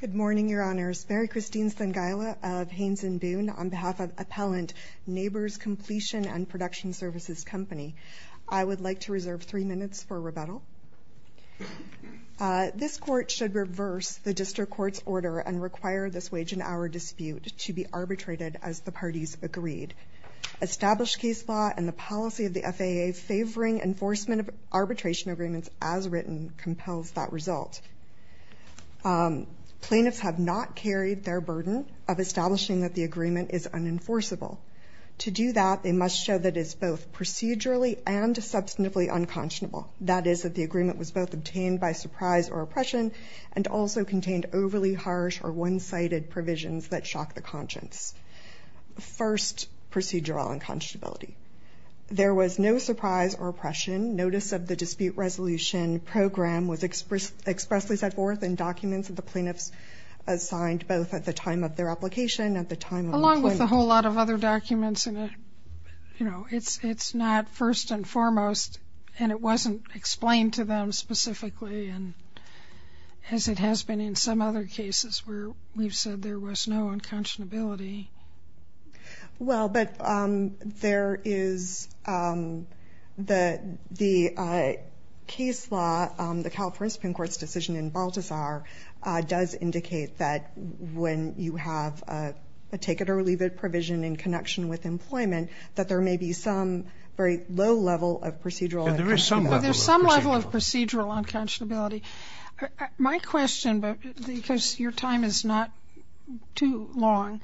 Good morning, Your Honors. Mary Christine Stenguyla of Haines & Boone on behalf of Appellant Nabors Completion and Production Services Company. I would like to reserve three minutes for rebuttal. This court should reverse the district court's order and require this wage and hour dispute to be arbitrated as the parties agreed. Established case law and the policy of the FAA favoring enforcement of arbitration agreements as written compels that result. Plaintiffs have not carried their burden of establishing that the agreement is unenforceable. To do that, they must show that it's both procedurally and substantively unconscionable. That is, that the agreement was both obtained by surprise or oppression and also contained overly harsh or one-sided provisions that shock the conscience. First, procedural unconscionability. There was no surprise or oppression. Notice of the dispute resolution program was expressly set forth in documents that the plaintiffs assigned both at the time of their application and at the time of the plaintiff. Along with a whole lot of other documents and you know it's it's not first and foremost and it wasn't explained to them specifically and as it has been in some other cases where we've said there was no unconscionability. Well but there is the the case law, the California Supreme Court's decision in Balthazar does indicate that when you have a take it or leave it provision in connection with employment that there may be some very low level of procedural unconscionability. There is some level of procedural unconscionability. My question, because your time is not too long,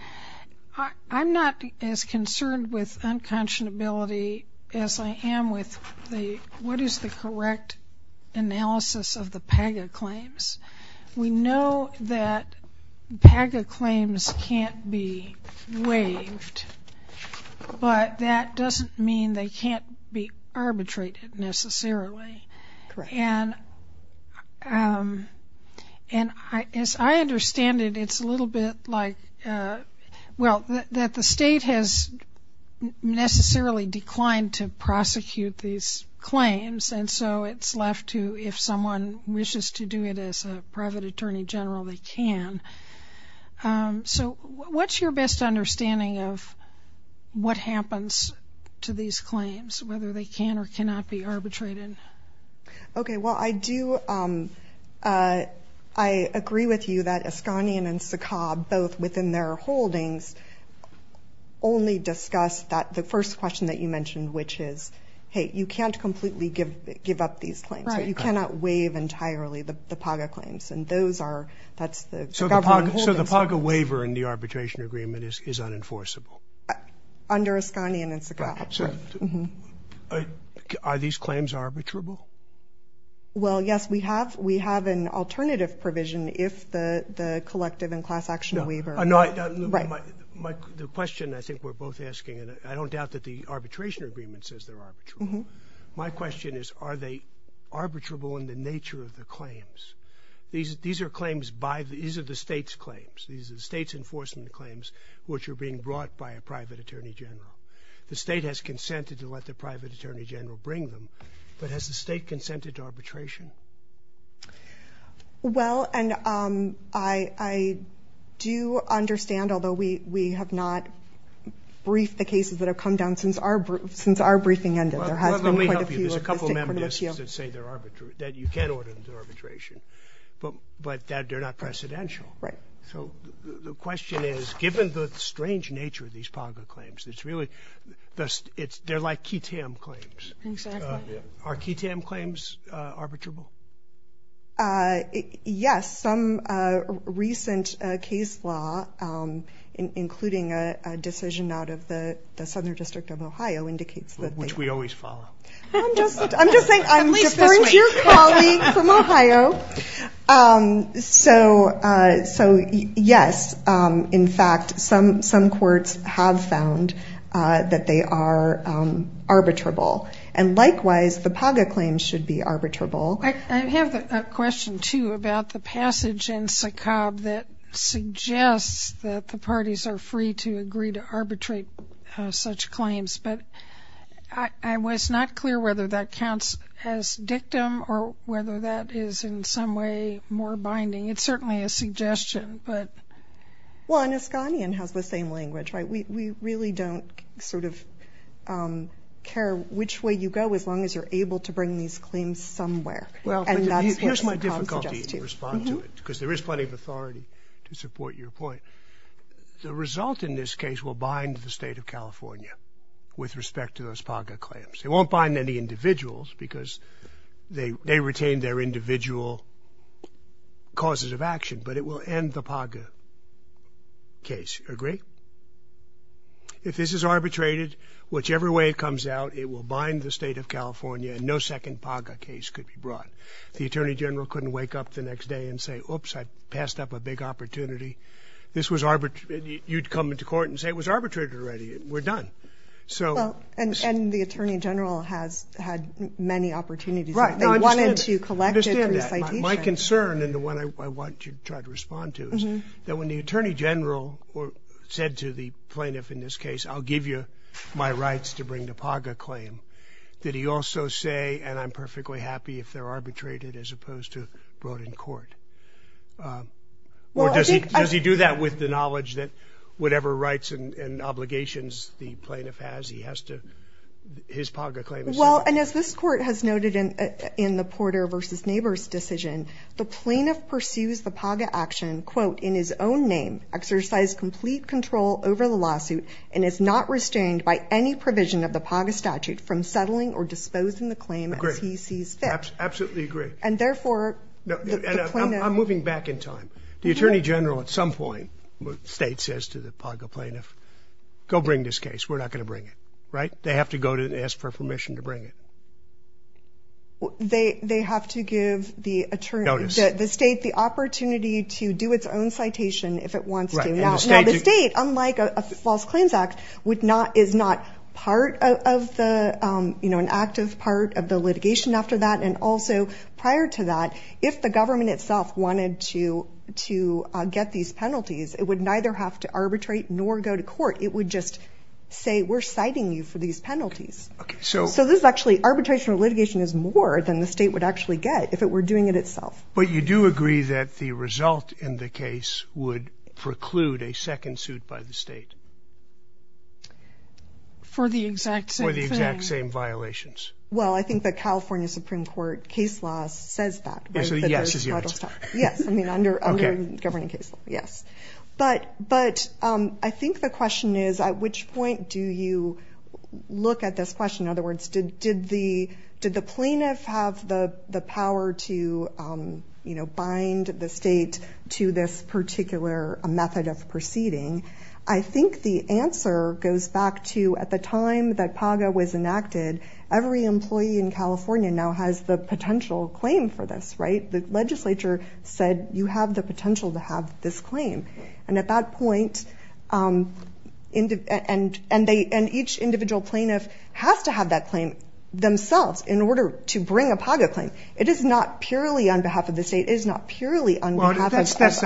I'm not as concerned with unconscionability as I am with the what is the correct analysis of the PAGA claims. We know that PAGA claims can't be waived but that doesn't mean they can't be arbitrated necessarily. And as I understand it it's a little bit like well that the state has necessarily declined to prosecute these claims and so it's left to if someone wishes to do it as a private attorney general they can. So what's your best understanding of what happens to these claims whether they can or cannot be arbitrated? Okay well I do I agree with you that Ascanian and Sakab both within their holdings only discussed that the first question that you mentioned which is hey you can't completely give give up these claims. You cannot waive entirely the PAGA claims and those are that's the government holdings. So the PAGA waiver in the arbitration agreement is unenforceable? Under Ascanian and Sakab. Are these claims arbitrable? Well yes we have we have an alternative provision if the the collective and class action waiver. The question I think we're both asking and I don't doubt that the arbitration agreement says they're arbitrable. My question is are they arbitrable in the nature of the claims? These are claims by these are the claims which are being brought by a private attorney general. The state has consented to let the private attorney general bring them but has the state consented to arbitration? Well and I I do understand although we we have not briefed the cases that have come down since our since our briefing ended there has been quite a few. There's a couple of members that say they're arbitrable that you can't order them to arbitration but but that they're not precedential. Right. So the given the strange nature of these PAGA claims it's really just it's they're like KTAM claims. Are KTAM claims arbitrable? Yes some recent case law including a decision out of the Southern District of Ohio indicates that. Which we always follow. I'm just saying I'm referring to your colleague from Ohio so so yes in fact some some courts have found that they are arbitrable and likewise the PAGA claims should be arbitrable. I have a question too about the passage in SACOB that suggests that the parties are free to agree to arbitrate such claims but I was not clear whether that counts as dictum or whether that is in some way more binding. It's certainly a suggestion but. Well Anaskanian has the same language right we really don't sort of care which way you go as long as you're able to bring these claims somewhere. Well and that's what Tom suggests too. Here's my difficulty to respond to it because there is plenty of authority to support your point. The result in this case will bind the state of California with respect to those PAGA claims. It won't bind any individuals because they they retain their individual causes of action but it will end the PAGA case. Agree? If this is arbitrated whichever way it comes out it will bind the state of California and no second PAGA case could be brought. The Attorney General couldn't wake up the next day and say oops I passed up a big opportunity. This was arbitrary you'd come into court and say it was many opportunities. My concern and the one I want to try to respond to is that when the Attorney General said to the plaintiff in this case I'll give you my rights to bring the PAGA claim did he also say and I'm perfectly happy if they're arbitrated as opposed to brought in court. Well does he does he do that with the knowledge that whatever rights and obligations the plaintiff has he has to his PAGA claim. Well and as this court has noted in in the Porter versus neighbors decision the plaintiff pursues the PAGA action quote in his own name exercise complete control over the lawsuit and is not restrained by any provision of the PAGA statute from settling or disposing the claim as he sees fit. Absolutely agree and therefore I'm moving back in time. The Attorney General at some point state says to the PAGA plaintiff go bring this case we're not going to bring it right. They have to go to ask for permission to bring it. They they have to give the attorneys that the state the opportunity to do its own citation if it wants to. Now the state unlike a False Claims Act would not is not part of the you know an active part of the litigation after that and also prior to that if the government itself wanted to to get these penalties it would neither have to arbitrate nor go to court it would just say we're citing you for these penalties. So this is actually arbitration or litigation is more than the state would actually get if it were doing it itself. But you do agree that the result in the case would preclude a second suit by the state? For the exact same violations. Well I think the California Supreme Court case law says that. Yes I mean under governing case law. Yes but but I think the question is at which point do you look at this question in other words did did the did the plaintiff have the the power to you know bind the state to this particular method of proceeding? I think the answer goes back to at the time that PAGA was for this right the legislature said you have the potential to have this claim and at that point and and they and each individual plaintiff has to have that claim themselves in order to bring a PAGA claim. It is not purely on behalf of the state is not purely on behalf of others.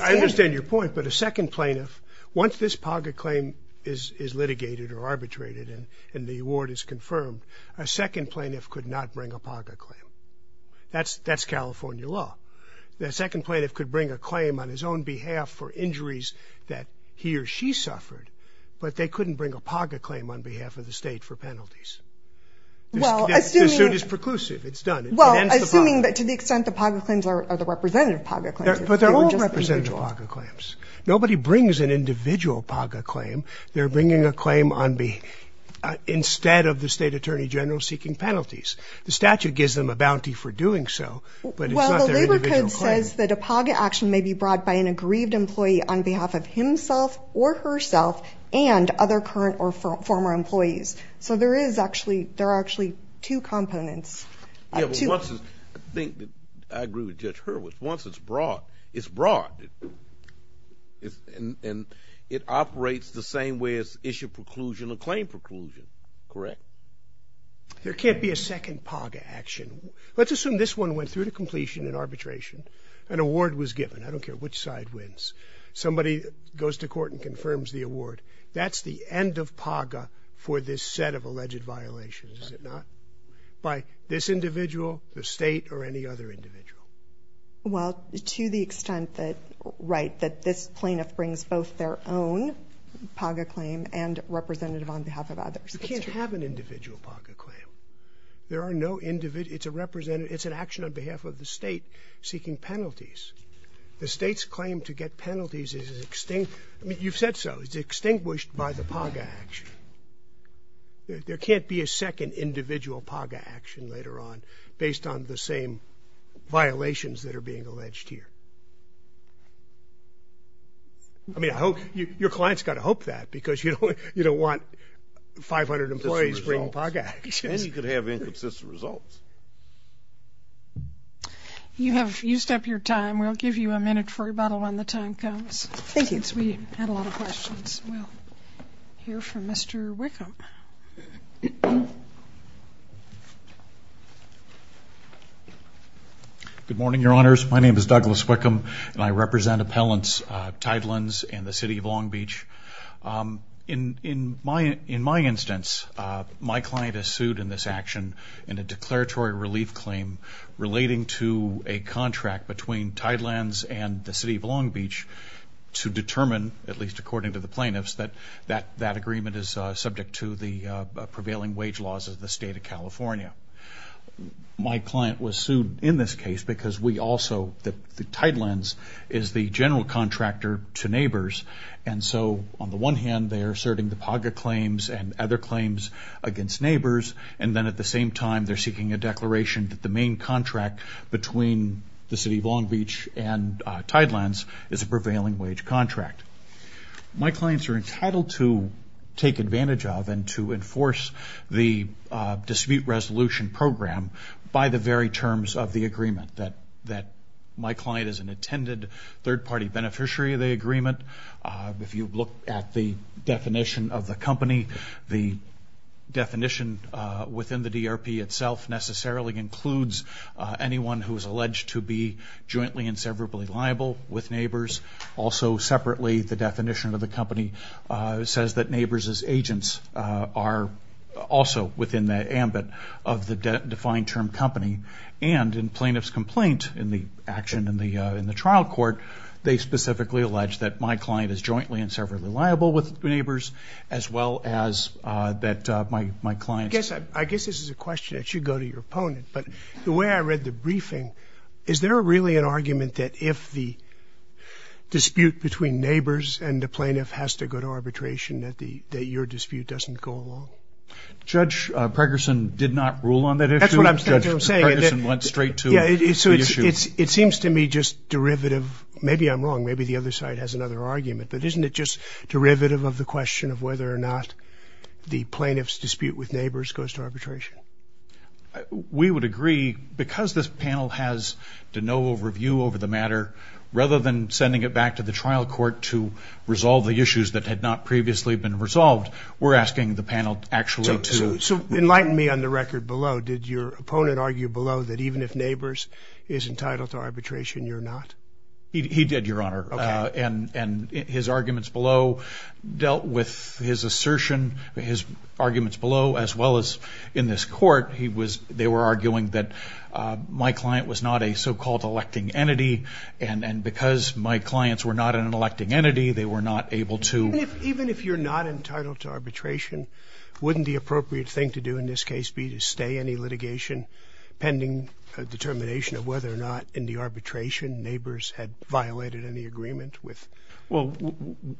I understand your point but a second plaintiff once this PAGA claim is is litigated or arbitrated and the award is that's that's California law. The second plaintiff could bring a claim on his own behalf for injuries that he or she suffered but they couldn't bring a PAGA claim on behalf of the state for penalties. Well assuming. The suit is preclusive it's done. Well assuming that to the extent the PAGA claims are the representative PAGA claims. But they're all representative PAGA claims. Nobody brings an individual PAGA claim they're bringing a claim on behalf instead of the state attorney general seeking penalties. The statute gives them a bounty for doing so but it's not their individual claim. Well the labor code says that a PAGA action may be brought by an aggrieved employee on behalf of himself or herself and other current or former employees. So there is actually there are actually two components. I think I agree with Judge Hurwitz. Once it's brought it's brought and it operates the same way as issue preclusion or claim preclusion. Correct. There can't be a second PAGA action. Let's assume this one went through to completion in arbitration. An award was given. I don't care which side wins. Somebody goes to court and confirms the award. That's the end of PAGA for this set of alleged violations is it not? By this individual the state or any other individual. Well to the extent that right that this on behalf of others. You can't have an individual PAGA claim. There are no individual. It's a representative. It's an action on behalf of the state seeking penalties. The state's claim to get penalties is extinct. I mean you've said so. It's extinguished by the PAGA action. There can't be a second individual PAGA action later on based on the same violations that are being alleged here. I hope your clients got to hope that because you know you don't want 500 employees bringing PAGA actions. And you could have inconsistent results. You have used up your time. We'll give you a minute for rebuttal when the time comes. Thank you. We had a lot of questions. We'll hear from Mr. Wickham. Good morning your honors. My name is Douglas Wickham and I represent appellants Tidelands and the City of Long Beach. In my instance my client is sued in this action in a declaratory relief claim relating to a contract between Tidelands and the City of Long Beach to determine at least according to the plaintiffs that that agreement is subject to the prevailing wage laws of the state of California. My client was sued in this case because we are a general contractor to neighbors and so on the one hand they are asserting the PAGA claims and other claims against neighbors and then at the same time they're seeking a declaration that the main contract between the City of Long Beach and Tidelands is a prevailing wage contract. My clients are entitled to take advantage of and to enforce the dispute resolution program by the very terms of the agreement that my client is an attended third-party beneficiary of the agreement. If you look at the definition of the company the definition within the DRP itself necessarily includes anyone who is alleged to be jointly and severably liable with neighbors. Also separately the definition of the company says that neighbors as agents are also within the ambit of the defined term company and in plaintiff's complaint in the action in the trial court they specifically allege that my client is jointly and severally liable with neighbors as well as that my client... I guess this is a question that should go to your opponent but the way I read the briefing is there really an argument that if the dispute between neighbors and the plaintiff has to go to arbitration that the that your dispute doesn't go along? Judge Pregerson did not rule on that issue? That's what I'm saying. Judge Pregerson went straight to the issue. It seems to me just derivative maybe I'm wrong maybe the other side has another argument but isn't it just derivative of the question of whether or not the plaintiff's dispute with neighbors goes to arbitration? We would agree because this panel has to no overview over the matter rather than sending it back to the trial court to resolve the issues that had not previously been resolved we're asking the panel actually to... So enlighten me on the record below did your opponent argue below that even if neighbors is entitled to arbitration you're not? He did your honor and and his arguments below dealt with his assertion his arguments below as well as in this court he was they were arguing that my client was not a so-called electing entity and and because my clients were not an electing entity they were not able to... Even if you're not entitled to arbitration wouldn't the appropriate thing to do in this case be to stay any litigation pending a determination of whether or not in the arbitration neighbors had violated any agreement with... Well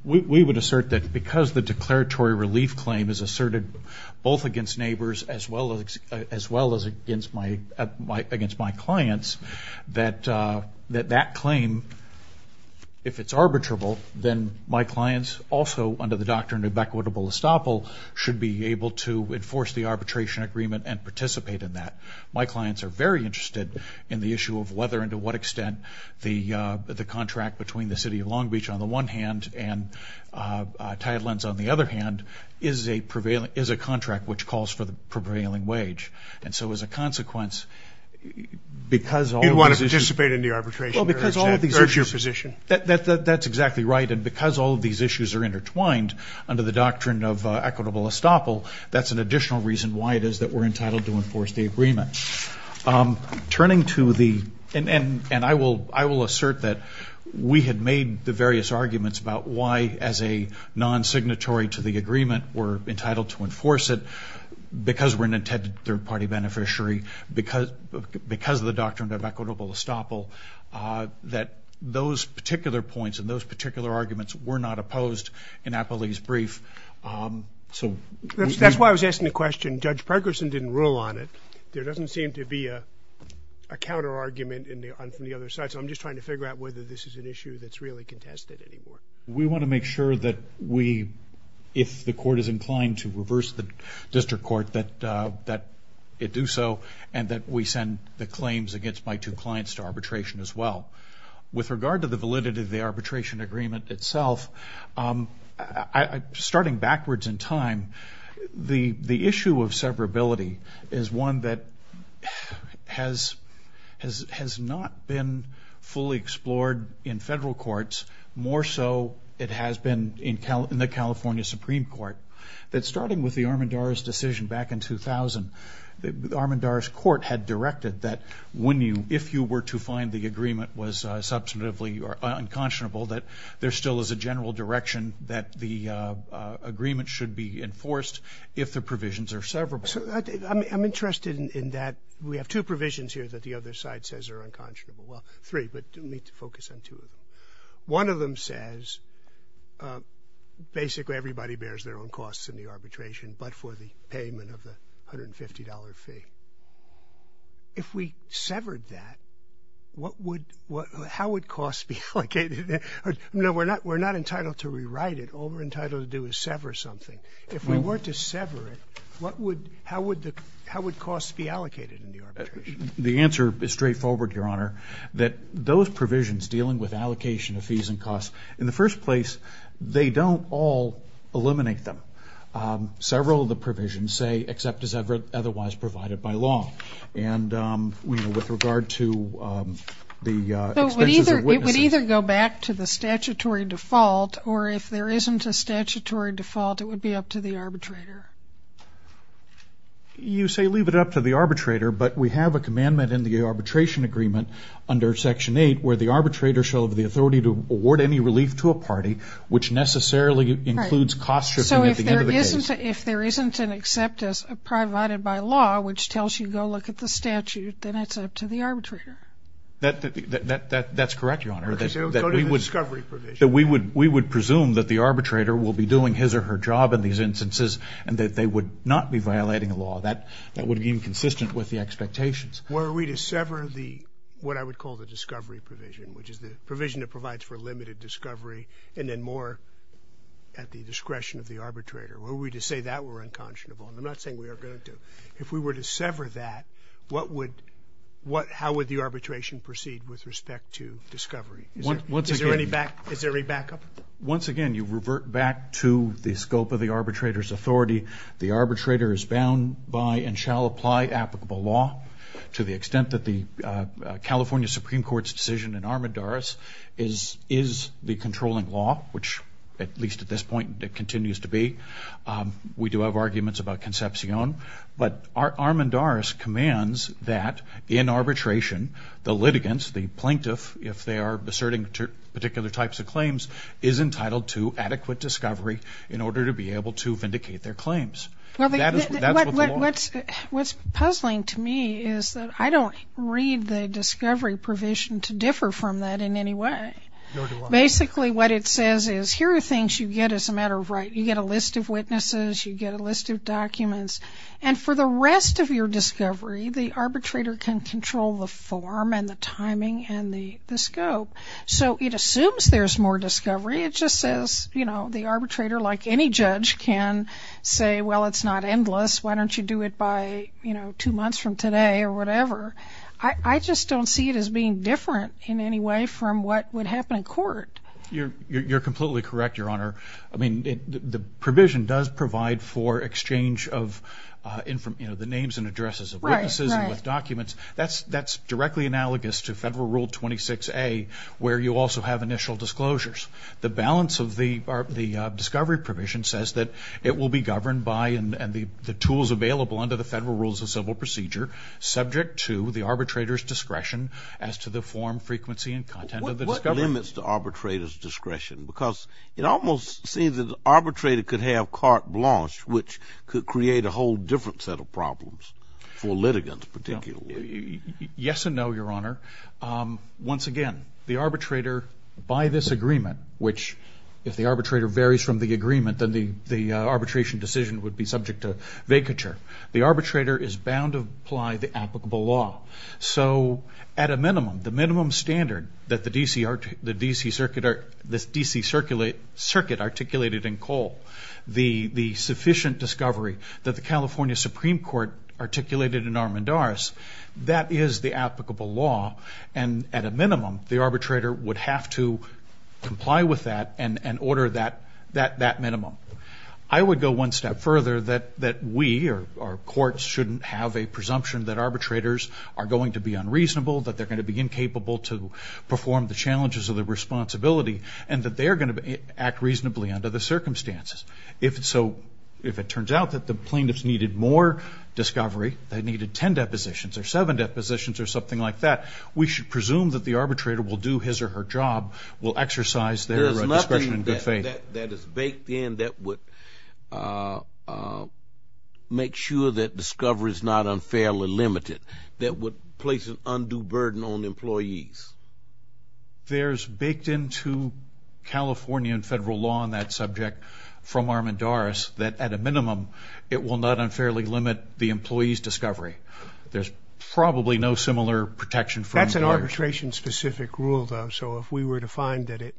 we would assert that because the declaratory relief claim is asserted both against neighbors as well as as well as against my against my clients that that that claim if it's arbitrable then my clients also under the doctrine of equitable estoppel should be able to enforce the arbitration agreement and participate in that. My clients are very interested in the issue of whether and to what extent the the contract between the city of Long Beach on the one hand and Tidelands on the other hand is a prevailing is a contract which calls for the prevailing wage and so as a consequence because... You want to participate in the arbitration? Well because all of these... That's exactly right and because all of these issues are intertwined under the doctrine of equitable estoppel that's an additional reason why it is that we're entitled to enforce the agreement. Turning to the... And I will assert that we had made the various arguments about why as a non-signatory to the agreement we're entitled to enforce it because we're an intended third-party beneficiary because of the doctrine of equitable estoppel that those particular points and those particular arguments were not opposed in Appley's brief so... That's why I was asking the question. Judge Pregerson didn't rule on it. There doesn't seem to be a counter-argument from the other side so I'm just trying to figure out whether this is an issue that's really contested anymore. We want to make sure that we if the court is inclined to reverse the district court that that it do so and that we send the claims against my two clients to arbitration as well. With regard to the validity of the arbitration agreement itself, starting backwards in time, the issue of severability is one that has not been fully explored in federal courts more so it has been in the California Supreme Court. That starting with the Armendariz decision back in 2000, the Armendariz court had directed that when you if you were to find the agreement was substantively or unconscionable that there still is a general direction that the agreement should be enforced if the provisions are severable. So I'm interested in that we have two provisions here that the other side says are unconscionable, well three, but let me focus on two of them. One of them says basically everybody bears their own costs in the arbitration but for the payment of the $150 fee. If we severed that what would what how would cost be allocated? No we're not we're not entitled to rewrite it, all we're entitled to do is sever something. If we were to sever it what would how would the how would cost be allocated in the arbitration? The answer is straightforward, your honor, that those provisions dealing with allocation of fees and costs in the first place they don't all eliminate them. Several of the provisions say except as ever otherwise provided by law and with regard to the expenses. It would either go back to the statutory default or if there isn't a statutory default it would be up to the arbitrator. You say leave it up to the arbitrator but we have a commandment in the arbitration agreement under section 8 where the arbitrator shall have the authority to award any relief to a party which necessarily includes cost shifting at the end of the case. So if there isn't an except as provided by law which tells you go look at the statute then it's up to the arbitrator. That's correct, your honor, that we would we would presume that the arbitrator will be doing his or her job in these instances and that they would not be violating the law. That would be inconsistent with the expectations. Were we to sever the what I would call the discovery provision which is the provision that provides for limited discovery and then more at the discretion of the arbitrator. Were we to say that we're unconscionable. I'm not saying we are going to. If we were to sever that what would what how would the arbitration proceed with respect to discovery? Is there any backup? Once again you revert back to the scope of the arbitrator's authority. The arbitrator is bound by and shall apply applicable law to the extent that the California Supreme Court's decision in Armendaris is the controlling law which at least at this point it continues to be. We do have arguments about Concepcion but Armendaris commands that in arbitration the litigants the plaintiff if they are asserting particular types of claims is entitled to adequate discovery in order to be able to vindicate their claims. What's puzzling to me is that I don't read the discovery provision to differ from that in any way. Basically what it says is here are things you get as a matter of right. You get a list of witnesses. You get a list of documents and for the rest of your discovery the arbitrator can control the form and the timing and the scope. So it assumes there's more discovery. It just says you know the arbitrator like any judge can say well it's not endless why don't you do it by you know two months from today or whatever. I just don't see it as being different in any way from what would happen in court. You're completely correct your honor. I mean the provision does provide for exchange of in from you know the names and addresses of witnesses with documents. That's that's directly analogous to federal rule 26a where you also have initial disclosures. The balance of the discovery provision says that it will be governed by and the tools available under the federal rules of civil procedure subject to the arbitrator's discretion as to the form frequency and content of the discovery. What limits the arbitrator's discretion because it almost seems that the arbitrator could have carte blanche which could create a whole different set of problems for litigants particularly. Yes and no your honor. Once again the arbitrator by this agreement which if the arbitrator varies from the agreement then the the arbitration decision would be subject to vacature. The arbitrator is bound to apply the applicable law. So at a minimum the minimum standard that the DC circuit articulated in Cole. The sufficient discovery that the California Supreme Court articulated in Armendaris that is the applicable law and at a minimum the arbitrator would have to comply with that and and order that that that minimum. I would go one step further that that we or our courts shouldn't have a presumption that perform the challenges of the responsibility and that they are going to act reasonably under the circumstances. If so if it turns out that the plaintiffs needed more discovery they needed ten depositions or seven depositions or something like that we should presume that the arbitrator will do his or her job will exercise their discretion in good faith. There is nothing that is baked in that would make sure that burden on employees. There's baked into California and federal law on that subject from Armendaris that at a minimum it will not unfairly limit the employees discovery. There's probably no similar protection. That's an arbitration specific rule though so if we were to find that it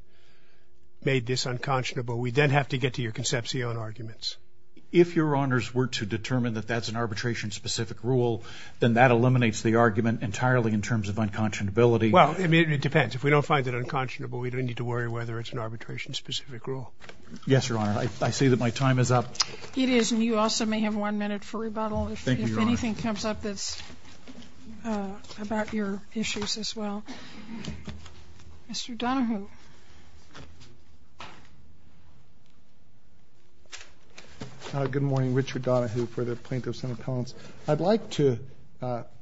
made this unconscionable we then have to get to your conception arguments. If your honors were to determine that that's an arbitration specific rule then that eliminates the unconscionability. Well it depends if we don't find that unconscionable we don't need to worry whether it's an arbitration specific rule. Yes your honor I see that my time is up. It is and you also may have one minute for rebuttal if anything comes up that's about your issues as well. Mr. Donohue. Good morning Richard Donohue for the Plaintiff's Senate Appellants. I'd like to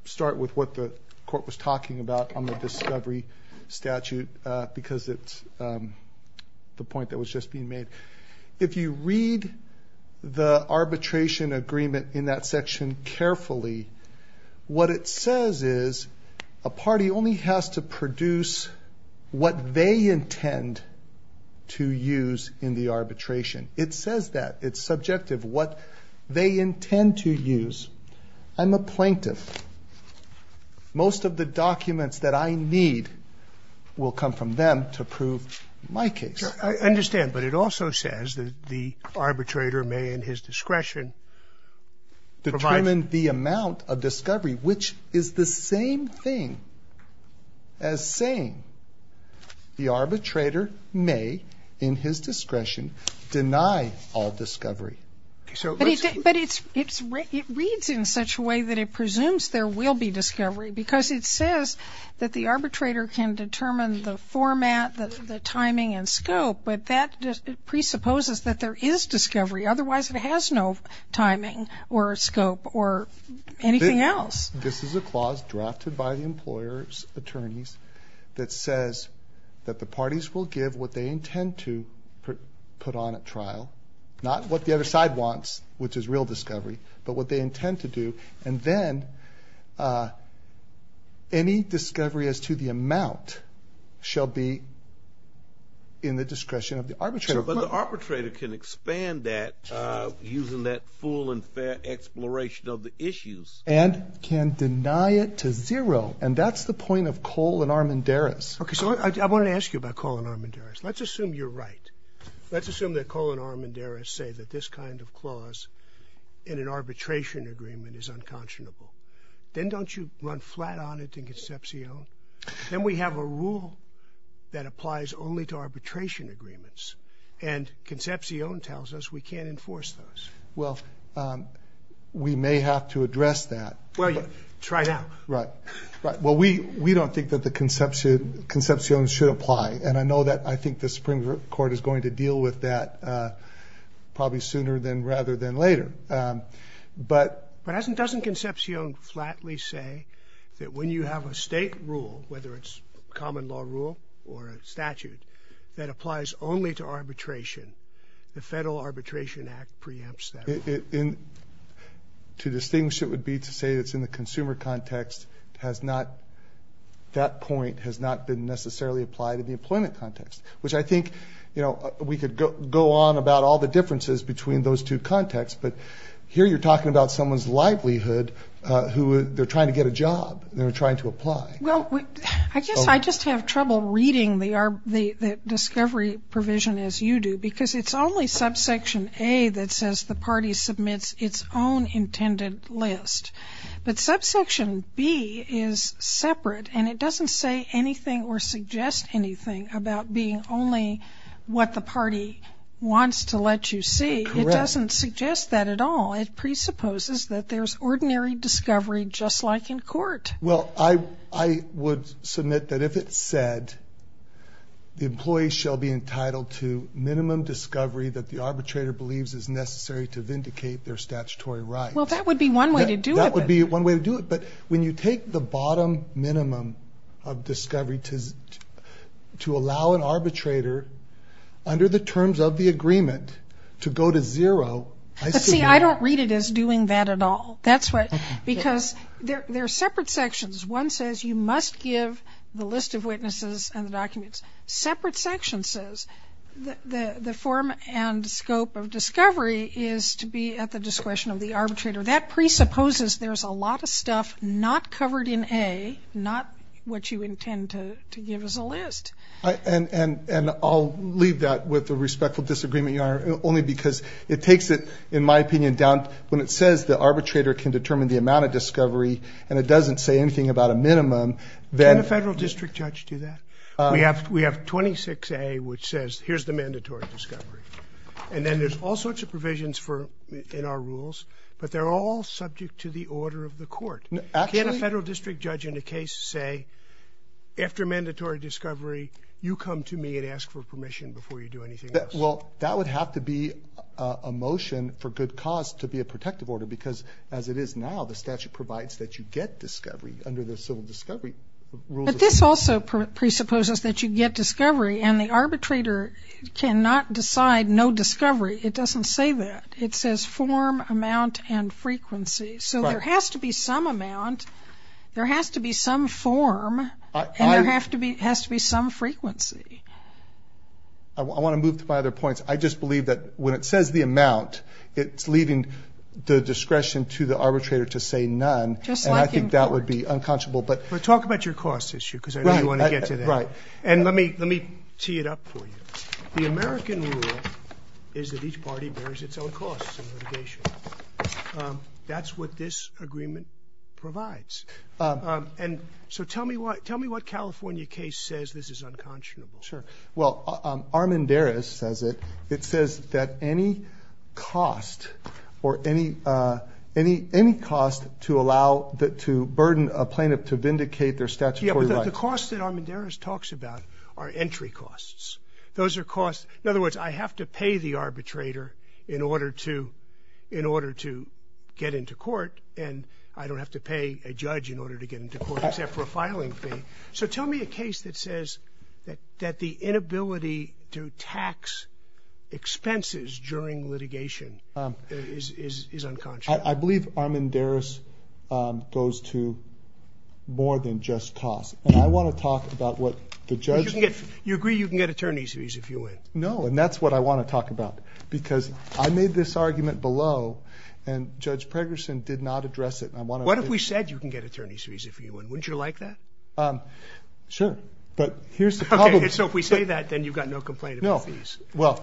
start with what the court was talking about on the discovery statute because it's the point that was just being made. If you read the arbitration agreement in that section carefully what it says is a party only has to produce what they intend to use in the arbitration. It says that it's subjective what they intend to use. I'm a Most of the documents that I need will come from them to prove my case. I understand but it also says that the arbitrator may in his discretion. Determine the amount of discovery which is the same thing as saying the arbitrator may in his discretion deny all discovery. But it's it's it reads in such a way that it because it says that the arbitrator can determine the format the timing and scope but that just presupposes that there is discovery otherwise it has no timing or scope or anything else. This is a clause drafted by the employer's attorneys that says that the parties will give what they intend to put on at trial not what the other side wants which is real discovery but what they any discovery as to the amount shall be in the discretion of the arbitrator. But the arbitrator can expand that using that full and fair exploration of the issues. And can deny it to zero and that's the point of Cole and Armendariz. Okay so I want to ask you about Cole and Armendariz. Let's assume you're right. Let's assume that Cole and Armendariz say that this kind of clause in an on it in Concepcion. Then we have a rule that applies only to arbitration agreements and Concepcion tells us we can't enforce those. Well we may have to address that. Well you try it out. Right right well we we don't think that the Concepcion should apply and I know that I think the Supreme Court is going to deal with that probably sooner than rather than later. But but doesn't doesn't Concepcion flatly say that when you have a state rule whether it's common law rule or a statute that applies only to arbitration the Federal Arbitration Act preempts that. To distinguish it would be to say it's in the consumer context has not that point has not been necessarily applied in the employment context which I think you know we could go on about all the differences between those two contexts but here you're talking about someone's livelihood who they're trying to get a job they're trying to apply. Well I guess I just have trouble reading the discovery provision as you do because it's only subsection A that says the party submits its own intended list but subsection B is separate and it doesn't say anything or suggest anything about being only what the party wants to let you see. It doesn't suggest that at all it presupposes that there's ordinary discovery just like in court. Well I I would submit that if it said the employee shall be entitled to minimum discovery that the arbitrator believes is necessary to vindicate their statutory right. Well that would be one way to do that would be one way to do it when you take the bottom minimum of discovery to to allow an arbitrator under the terms of the agreement to go to zero. See I don't read it as doing that at all that's what because there are separate sections one says you must give the list of witnesses and the documents separate section says the the form and scope of discovery is to be at the discretion of the arbitrator that presupposes there's a lot of stuff not covered in A not what you intend to give us a list. And and and I'll leave that with the respectful disagreement your honor only because it takes it in my opinion down when it says the arbitrator can determine the amount of discovery and it doesn't say anything about a minimum. Can a federal district judge do that? We have we have 26 A which says here's the mandatory discovery and then there's all sorts of provisions for in our rules but they're all subject to the order of the court. Can a federal district judge in a case say after mandatory discovery you come to me and ask for permission before you do anything else? Well that would have to be a motion for good cause to be a protective order because as it is now the statute provides that you get discovery under the civil discovery. But this also presupposes that you get discovery and the arbitrator cannot no discovery it doesn't say that it says form amount and frequency so there has to be some amount there has to be some form and there have to be has to be some frequency. I want to move to my other points I just believe that when it says the amount it's leaving the discretion to the arbitrator to say none and I think that would be unconscionable. But talk about your cost issue because I is that each party bears its own cost. That's what this agreement provides and so tell me what tell me what California case says this is unconscionable. Well Armendariz says it it says that any cost or any any any cost to allow that to burden a plaintiff to vindicate their statutory right. The cost that Armendariz talks about are entry costs. Those are costs in other words I have to pay the arbitrator in order to in order to get into court and I don't have to pay a judge in order to get into court except for a filing fee. So tell me a case that says that that the inability to tax expenses during litigation is unconscionable. I believe Armendariz goes to more than just costs and I want to talk about what the judge. You agree you can get attorney's fees if you win? No and that's what I want to talk about because I made this argument below and Judge Pregerson did not address it. What if we said you can get attorney's fees if you win? Wouldn't you like that? Sure but here's the problem. So if we say that then you've got no complaint. No well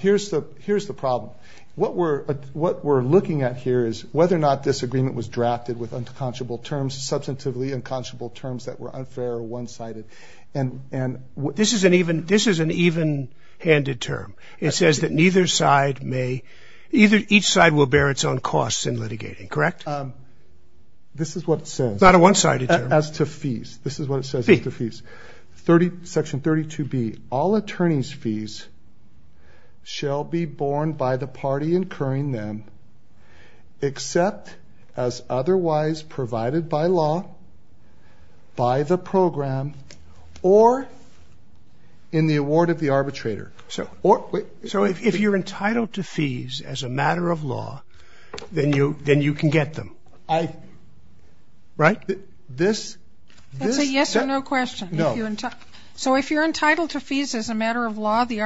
here's the here's the problem. What we're what we're looking at here is whether or not this agreement was drafted with unconscionable terms that were unfair one-sided and and what this is an even this is an even-handed term. It says that neither side may either each side will bear its own costs in litigating correct? This is what it says. Not a one-sided term. As to fees. This is what it says to fees 30 section 32 B all attorneys fees shall be borne by the party incurring them except as otherwise provided by law by the program or in the award of the arbitrator. So or wait so if you're entitled to fees as a matter of law then you then you can get them? I right? This yes or no question? No. So if you're entitled to fees as a matter of law the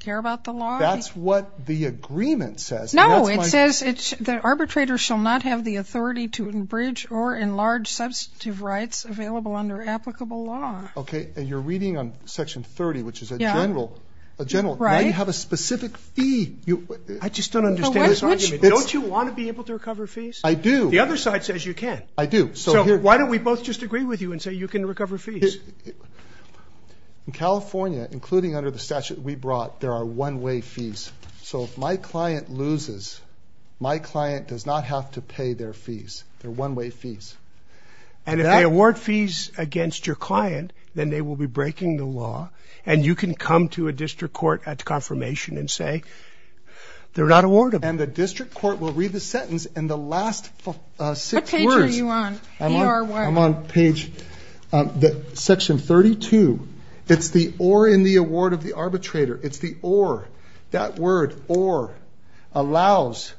care about the law? That's what the agreement says. No it says it's the arbitrator shall not have the authority to enbridge or enlarge substantive rights available under applicable law. Okay and you're reading on section 30 which is a general a general right you have a specific fee you I just don't understand. Don't you want to be able to recover fees? I do. The other side says you can. I do. So why don't we both just agree with you and say you can recover fees? In California including under the statute we brought there are one-way fees so if my client loses my client does not have to pay their fees they're one-way fees. And if they award fees against your client then they will be breaking the law and you can come to a district court at confirmation and say they're not awarded. And the district court will read the sentence and the section 32 it's the or in the award of the arbitrator it's the or that word or allows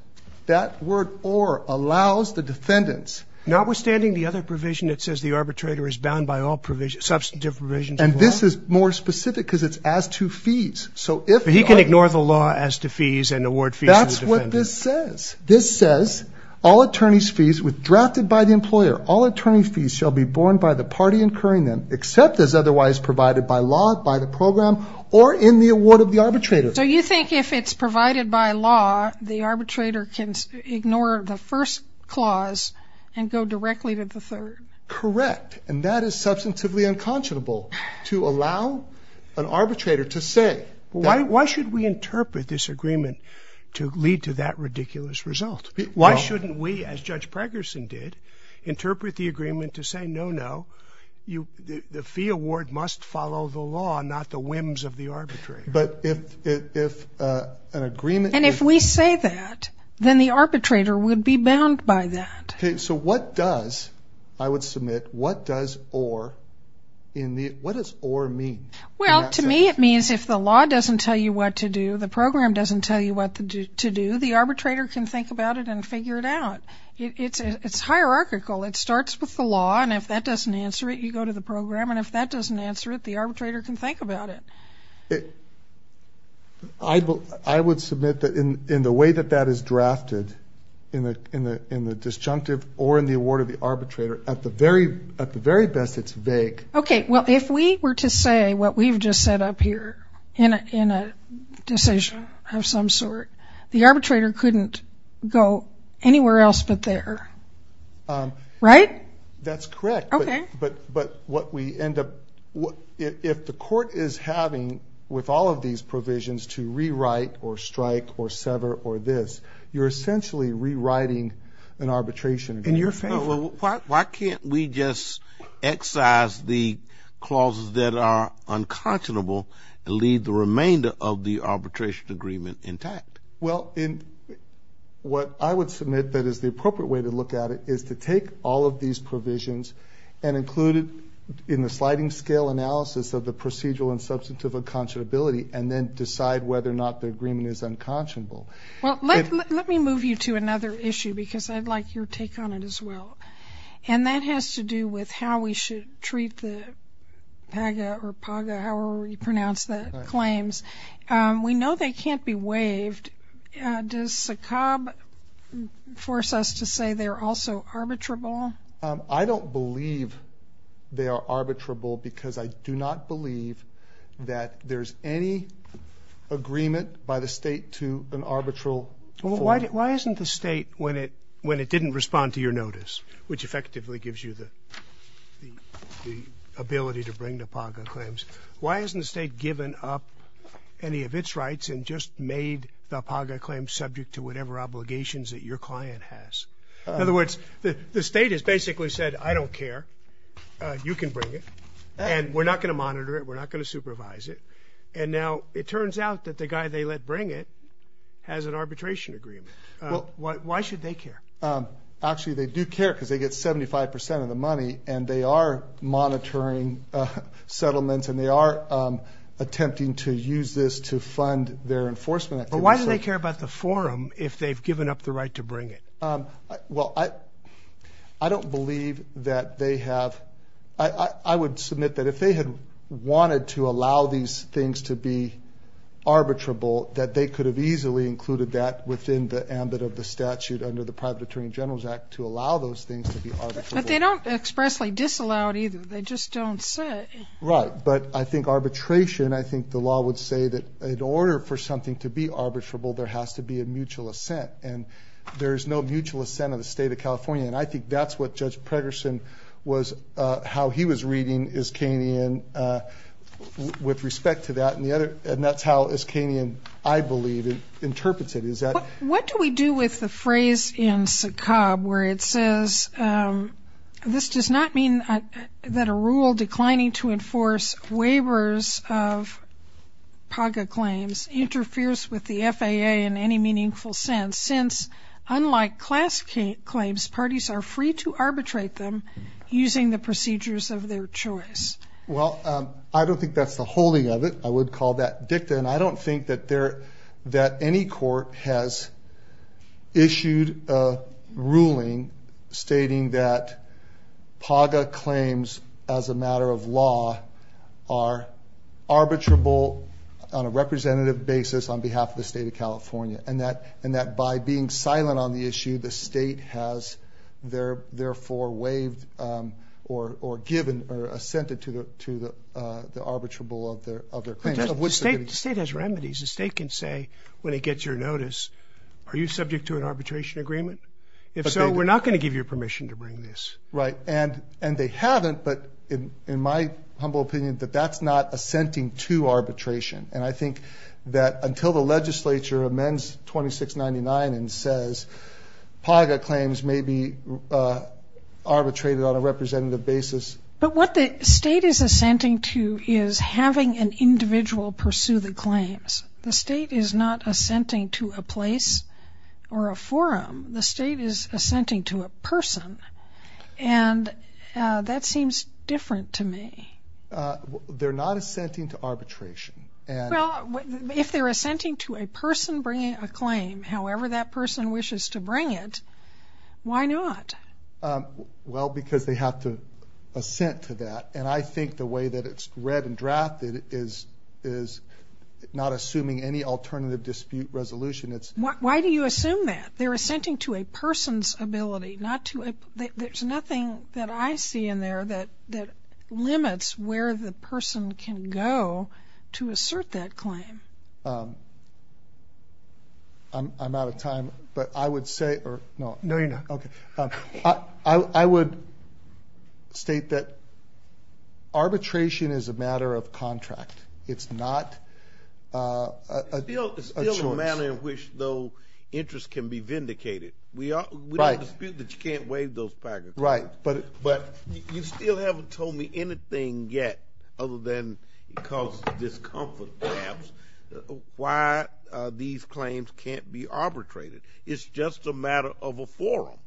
that word or allows the defendants. Notwithstanding the other provision that says the arbitrator is bound by all provisions substantive provisions. And this is more specific because it's as to fees. So if he can ignore the law as to fees and award fees. That's what this says. This says all attorneys fees with drafted by the employer all attorney fees shall be borne by the party incurring them except as otherwise provided by law by the program or in the award of the arbitrator. So you think if it's provided by law the arbitrator can ignore the first clause and go directly to the third? Correct and that is substantively unconscionable to allow an arbitrator to say. Why why should we interpret this agreement to lead to that ridiculous result? Why shouldn't we as Judge Pregerson did interpret the agreement to say no no you the fee award must follow the law not the whims of the arbitrator. But if if an agreement. And if we say that then the arbitrator would be bound by that. Okay so what does I would submit what does or in the what does or mean? Well to me it means if the law doesn't tell you what to do the program doesn't tell you to do the arbitrator can think about it and figure it out. It's it's hierarchical it starts with the law and if that doesn't answer it you go to the program and if that doesn't answer it the arbitrator can think about it. I would submit that in in the way that that is drafted in the in the in the disjunctive or in the award of the arbitrator at the very at the very best it's vague. Okay well if we were to say what we've just set up here in a in a decision of some sort the arbitrator couldn't go anywhere else but there right? That's correct okay but but what we end up what if the court is having with all of these provisions to rewrite or strike or sever or this you're essentially rewriting an arbitration. In your favor. Why can't we just excise the clauses that are arbitration agreement intact? Well in what I would submit that is the appropriate way to look at it is to take all of these provisions and include it in the sliding scale analysis of the procedural and substantive unconscionability and then decide whether or not the agreement is unconscionable. Well let me move you to another issue because I'd like your take on it as well and that has to do with how we should treat the PAGA or PAGA however you pronounce the claims. We know they can't be waived does SACOB force us to say they're also arbitrable? I don't believe they are arbitrable because I do not believe that there's any agreement by the state to an arbitral. Why isn't the state when it when it didn't respond to your claims why hasn't the state given up any of its rights and just made the PAGA claim subject to whatever obligations that your client has? In other words the state has basically said I don't care you can bring it and we're not going to monitor it we're not going to supervise it and now it turns out that the guy they let bring it has an arbitration agreement. Why should they care? Actually they do care because they get 75% of the money and they are monitoring settlements and they are attempting to use this to fund their enforcement. But why do they care about the forum if they've given up the right to bring it? Well I I don't believe that they have I I would submit that if they had wanted to allow these things to be arbitrable that they could have easily included that within the ambit of the statute under the private Attorney General's Act to allow those things. But they don't expressly disallow it either they just don't say. Right but I think arbitration I think the law would say that in order for something to be arbitrable there has to be a mutual assent and there's no mutual assent of the state of California and I think that's what Judge Pregerson was how he was reading Iskanyan with respect to that and the other and that's how Iskanyan I believe it interprets it is that. What do we do with the phrase in SACOB where it says this does not mean that a rule declining to enforce waivers of PAGA claims interferes with the FAA in any meaningful sense since unlike class claims parties are free to arbitrate them using the procedures of their choice. Well I don't think that's the holding of it I would call that dicta and I don't think that there that any court has issued a ruling stating that PAGA claims as a matter of law are arbitrable on a representative basis on behalf of the state of California and that and that by being silent on the issue the state has their therefore waived or or given or assented to the to the arbitrable of their other claims. The state has remedies the state can say when it gets your notice are you subject to an arbitration agreement if so we're not going to give you permission to bring this. Right and and they haven't but in in my humble opinion that that's not assenting to arbitration and I think that until the legislature amends 2699 and says PAGA claims may be arbitrated on a representative basis. But what the individual pursue the claims the state is not assenting to a place or a forum the state is assenting to a person and that seems different to me. They're not assenting to arbitration. Well if they're assenting to a person bringing a claim however that person wishes to bring it why not? Well because they have to assent to that and I think the way that it's read and drafted is is not assuming any alternative dispute resolution it's. Why do you assume that they're assenting to a person's ability not to there's nothing that I see in there that that limits where the person can go to assert that claim. I'm out of state that arbitration is a matter of contract it's not a matter in which no interest can be vindicated. We are right that you can't waive those packets. Right but but you still haven't told me anything yet other than because discomfort perhaps why these claims can't be arbitrated it's just a matter of a forum.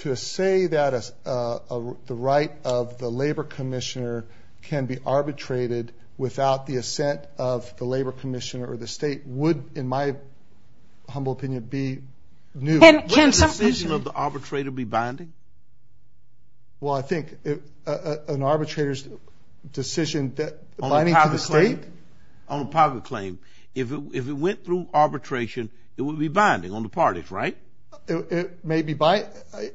To say that as the right of the Labor Commissioner can be arbitrated without the assent of the Labor Commissioner or the state would in my humble opinion be new. Can the decision of the arbitrator be binding? Well I think if an arbitrator's decision that binding to the state. On a public claim if it went through arbitration it would be binding on the parties right? It may be by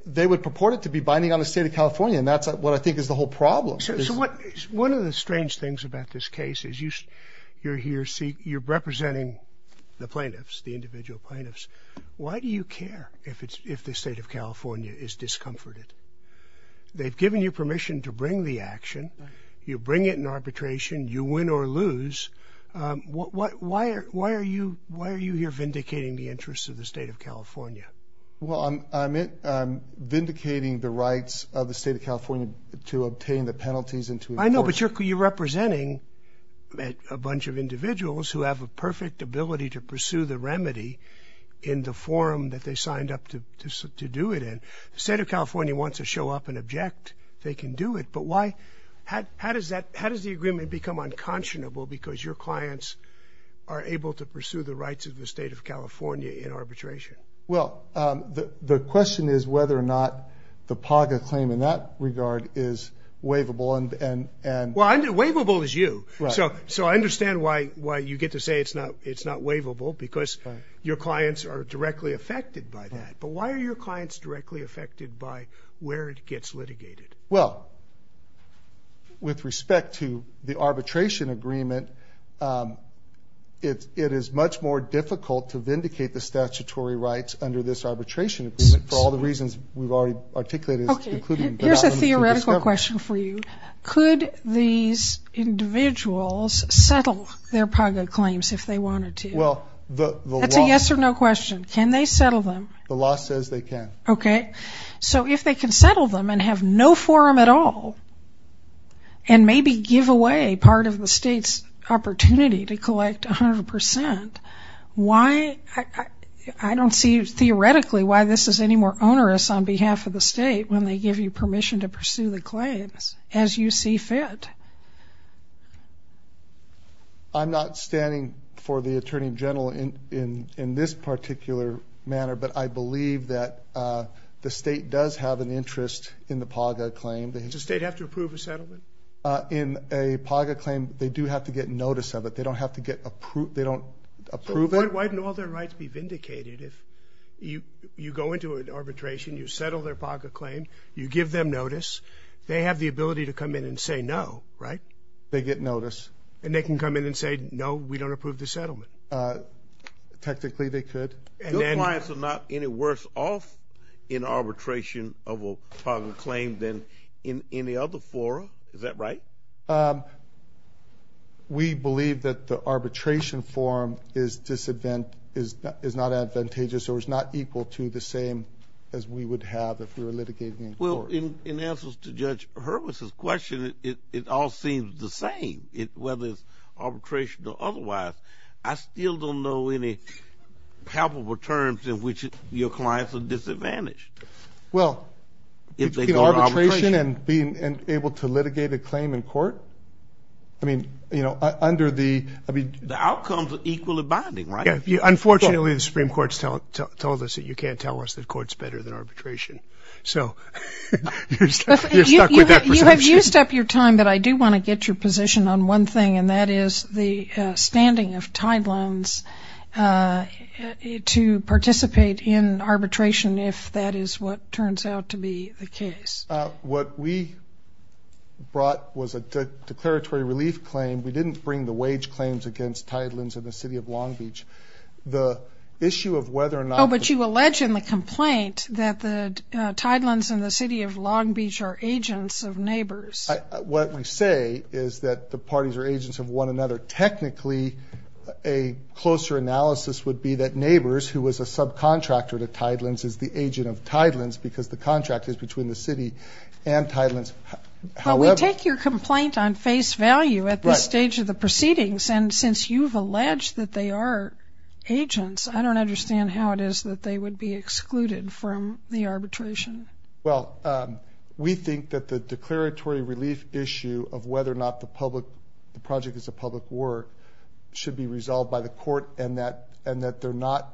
they would purport it to be binding on the state of California and that's what I think is the whole problem. So what one of the strange things about this case is you you're here see you're representing the plaintiffs the individual plaintiffs. Why do you care if it's if the state of California is discomforted? They've given you permission to bring the action you bring it in arbitration you win or lose. Why are you why are you here vindicating the interests of the state of California? Well I'm vindicating the rights of the state of California to obtain the penalties. I know but you're representing a bunch of individuals who have a perfect ability to pursue the remedy in the forum that they signed up to do it in. The state of the agreement become unconscionable because your clients are able to pursue the rights of the state of California in arbitration? Well the question is whether or not the PAGA claim in that regard is waivable and and and. Well I'm do waivable is you so so I understand why why you get to say it's not it's not waivable because your clients are directly affected by that but why are your clients directly affected by where it gets litigated? Well with respect to the arbitration agreement it is much more difficult to vindicate the statutory rights under this arbitration agreement for all the reasons we've already articulated. Here's a theoretical question for you. Could these individuals settle their PAGA claims if they wanted to? Well the yes or no question. Can they settle them? The law says they can. Okay so if they can settle them and have no forum at all and maybe give away part of the state's opportunity to collect 100% why I don't see you theoretically why this is any more onerous on behalf of the state when they give you permission to pursue the claims as you see fit. I'm not standing for the Attorney General in in in this in the PAGA claim. Does the state have to approve a settlement? In a PAGA claim they do have to get notice of it they don't have to get approved they don't approve it. Why don't all their rights be vindicated if you you go into an arbitration you settle their PAGA claim you give them notice they have the ability to come in and say no right? They get notice. And they can come in and say no we don't approve the settlement? Technically they could. Your clients are not any worse off in arbitration of a PAGA claim than in any other forum is that right? We believe that the arbitration forum is disadvantageous is not advantageous or is not equal to the same as we would have if we were litigating in court. Well in answers to Judge Hurwitz's question it all seems the same it whether it's arbitration or otherwise I still don't know any palpable terms in which your clients are disadvantaged. Well if they go to arbitration and being able to litigate a claim in court I mean you know under the I mean the outcomes are equally binding right? Yeah unfortunately the Supreme Court's told us that you can't tell us that courts better than arbitration so you have used up your time but I do want to get your position on one thing and that is the standing of Tidelands to participate in arbitration if that is what turns out to be the case. What we brought was a declaratory relief claim we didn't bring the wage claims against Tidelands and the city of Long Beach the issue of whether or not. Oh but you allege in the complaint that the Tidelands and the city of Long Beach are agents of neighbors. What we say is that the parties are agents of one another technically a closer analysis would be that neighbors who was a subcontractor to Tidelands is the agent of Tidelands because the contract is between the city and Tidelands. Well we take your complaint on face value at this stage of the proceedings and since you've alleged that they are agents I don't understand how it is that they would be excluded from the arbitration. Well we think that the declaratory relief issue of whether or not the public the project is a public work should be resolved by the court and that and that they're not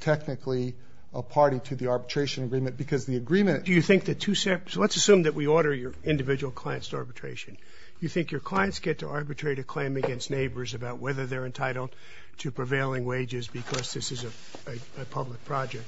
technically a party to the arbitration agreement because the agreement. Do you think that two separate so let's assume that we order your individual clients to arbitration you think your clients get to arbitrate a claim against neighbors about whether they're entitled to prevailing wages because this is a public project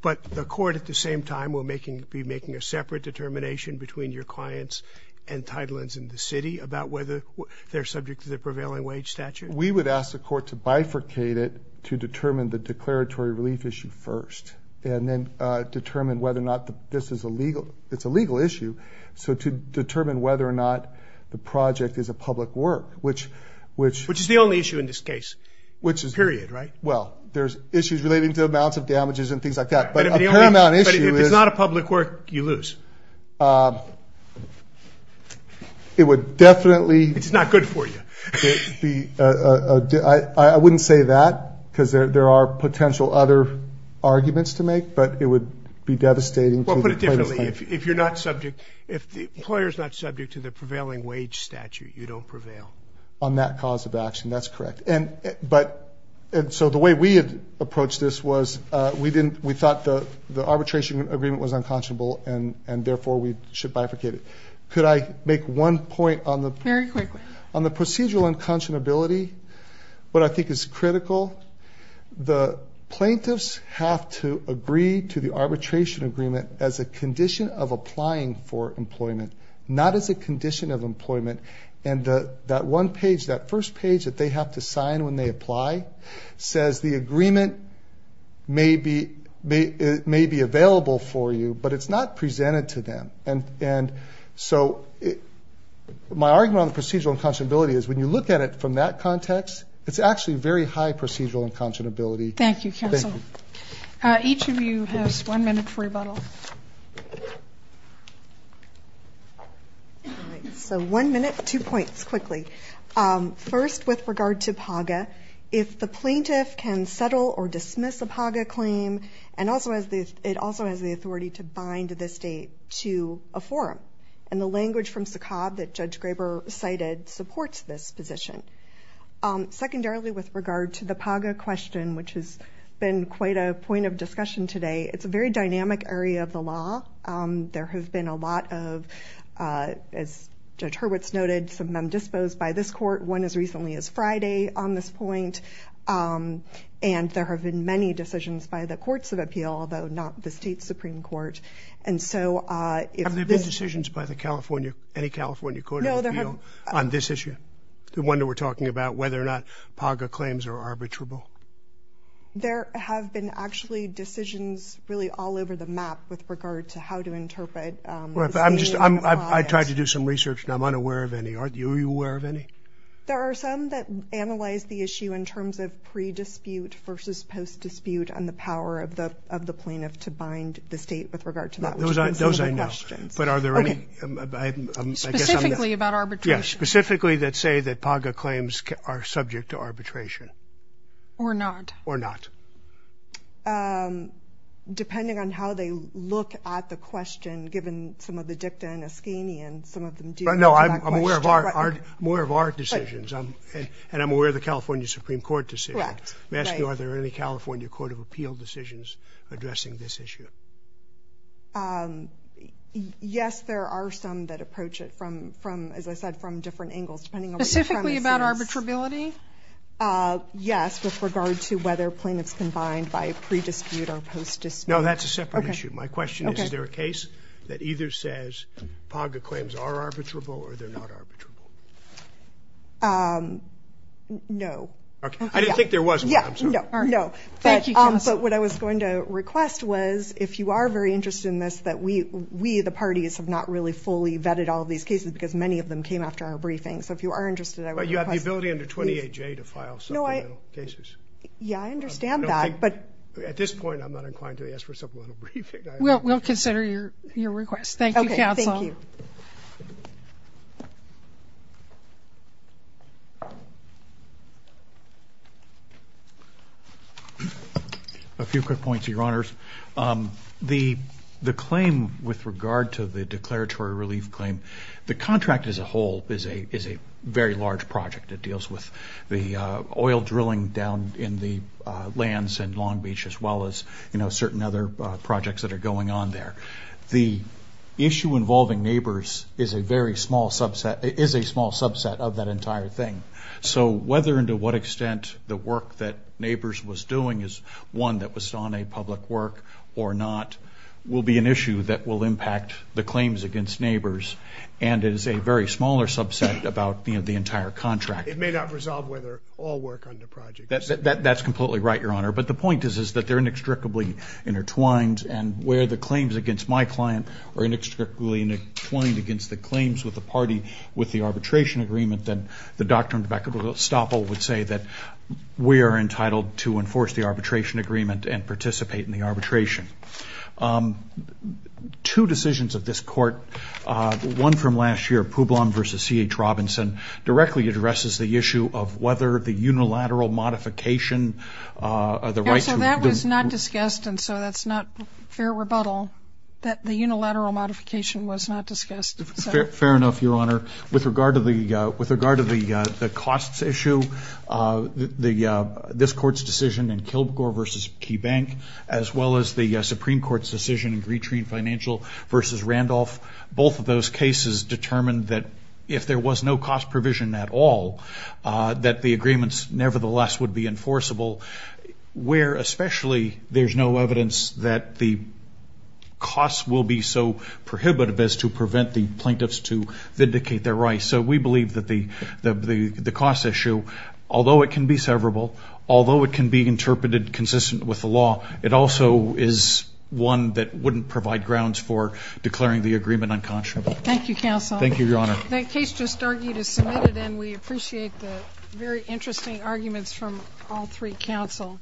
but the court at the same time will making be making a separate determination between your clients and Tidelands in the city about whether they're subject to the prevailing wage statute? We would ask the court to bifurcate it to determine the declaratory relief issue first and then determine whether or not this is a legal it's a legal issue so to determine whether or not the project is a public work which which which is the only issue in this case which is period right well there's issues relating to amounts of damages and things like that but a definitely it's not good for you I wouldn't say that because there are potential other arguments to make but it would be devastating if you're not subject if the employers not subject to the prevailing wage statute you don't prevail on that cause of action that's correct and but and so the way we had approached this was we didn't we thought the the arbitration agreement was one point on the very quickly on the procedural unconscionability what I think is critical the plaintiffs have to agree to the arbitration agreement as a condition of applying for employment not as a condition of employment and that one page that first page that they have to sign when they apply says the agreement may be may be available for you but it's not presented to them and so my argument procedural unconscionability is when you look at it from that context it's actually very high procedural unconscionability thank you counsel each of you has one minute for rebuttal so one minute two points quickly first with regard to Paga if the plaintiff can settle or dismiss a Paga claim and also as this it also has the authority to bind to this date to a forum and the language from SACOB that Judge Graber cited supports this position secondarily with regard to the Paga question which has been quite a point of discussion today it's a very dynamic area of the law there have been a lot of as Judge Hurwitz noted some of them disposed by this court one as recently as Friday on this point and there have been many decisions by the California any California court on this issue the one that we're talking about whether or not Paga claims are arbitrable there have been actually decisions really all over the map with regard to how to interpret I'm just I'm I tried to do some research and I'm unaware of any aren't you aware of any there are some that analyze the issue in terms of pre dispute versus post dispute and the power of the of the plaintiff to bind the state with regard to that those I know but are there any specifically about arbitration yes specifically that say that Paga claims are subject to arbitration or not or not depending on how they look at the question given some of the dicta in Ascani and some of them do I know I'm aware of our decisions and I'm aware of the California Supreme Court decision may I ask you are there any California Court of Appeal decisions addressing this issue yes there are some that approach it from as I said from different angles specifically about arbitrability yes with regard to whether plaintiffs can bind by pre dispute or post dispute no that's a separate issue my question is is there a case that either says Paga claims are arbitrable or they're not arbitrable no I didn't think there was one no but what I was going to request was if you are very interested in this that we we the parties have not really fully vetted all these cases because many of them came after our briefing so if you are interested you have the ability under 28J to file supplemental cases yeah I understand that but at this point I'm not inclined to ask for a supplemental briefing we'll consider your request thank you counsel a few quick points your honors the claim with regard to the declaratory relief claim the contract as a whole is a very large project it deals with the oil drilling down in the lands in Long Beach as well as you know certain other projects that are going on there the issue involving neighbors is a very small subset is a small subset of that entire thing so whether and to what extent the work that neighbors was doing is one that was on a public work or not will be an issue that will impact the claims against neighbors and it is a very smaller subset about the entire contract it may not resolve whether all work on the project that's completely right your honor but the point is that they're inextricably intertwined and where the claims against my client are inextricably intertwined against the claims with the party with the arbitration agreement then the doctrine of equitable estoppel would say that we are entitled to enforce the arbitration agreement and participate in the arbitration two decisions of this court one from last year Poublon versus C.H. Robinson directly addresses the issue of whether the unilateral modification the right to... that was not discussed and so that's not fair rebuttal that the unilateral modification was not discussed fair enough your honor with regard to the cost issue this court's decision in Kilgore versus KeyBank as well as the Supreme Court's decision in Greetree Financial versus Randolph both of those cases determined that if there was no cost provision at all that the agreements nevertheless would be enforceable where especially there's no evidence that the cost will be so prohibitive as to prevent the plaintiffs to vindicate their rights so we believe that the cost issue although it can be severable although it can be interpreted consistent with the law it also is one that wouldn't provide grounds for declaring the agreement unconscionable thank you counsel thank you your honor that case just argued is submitted and we appreciate the very interesting arguments from all three counsel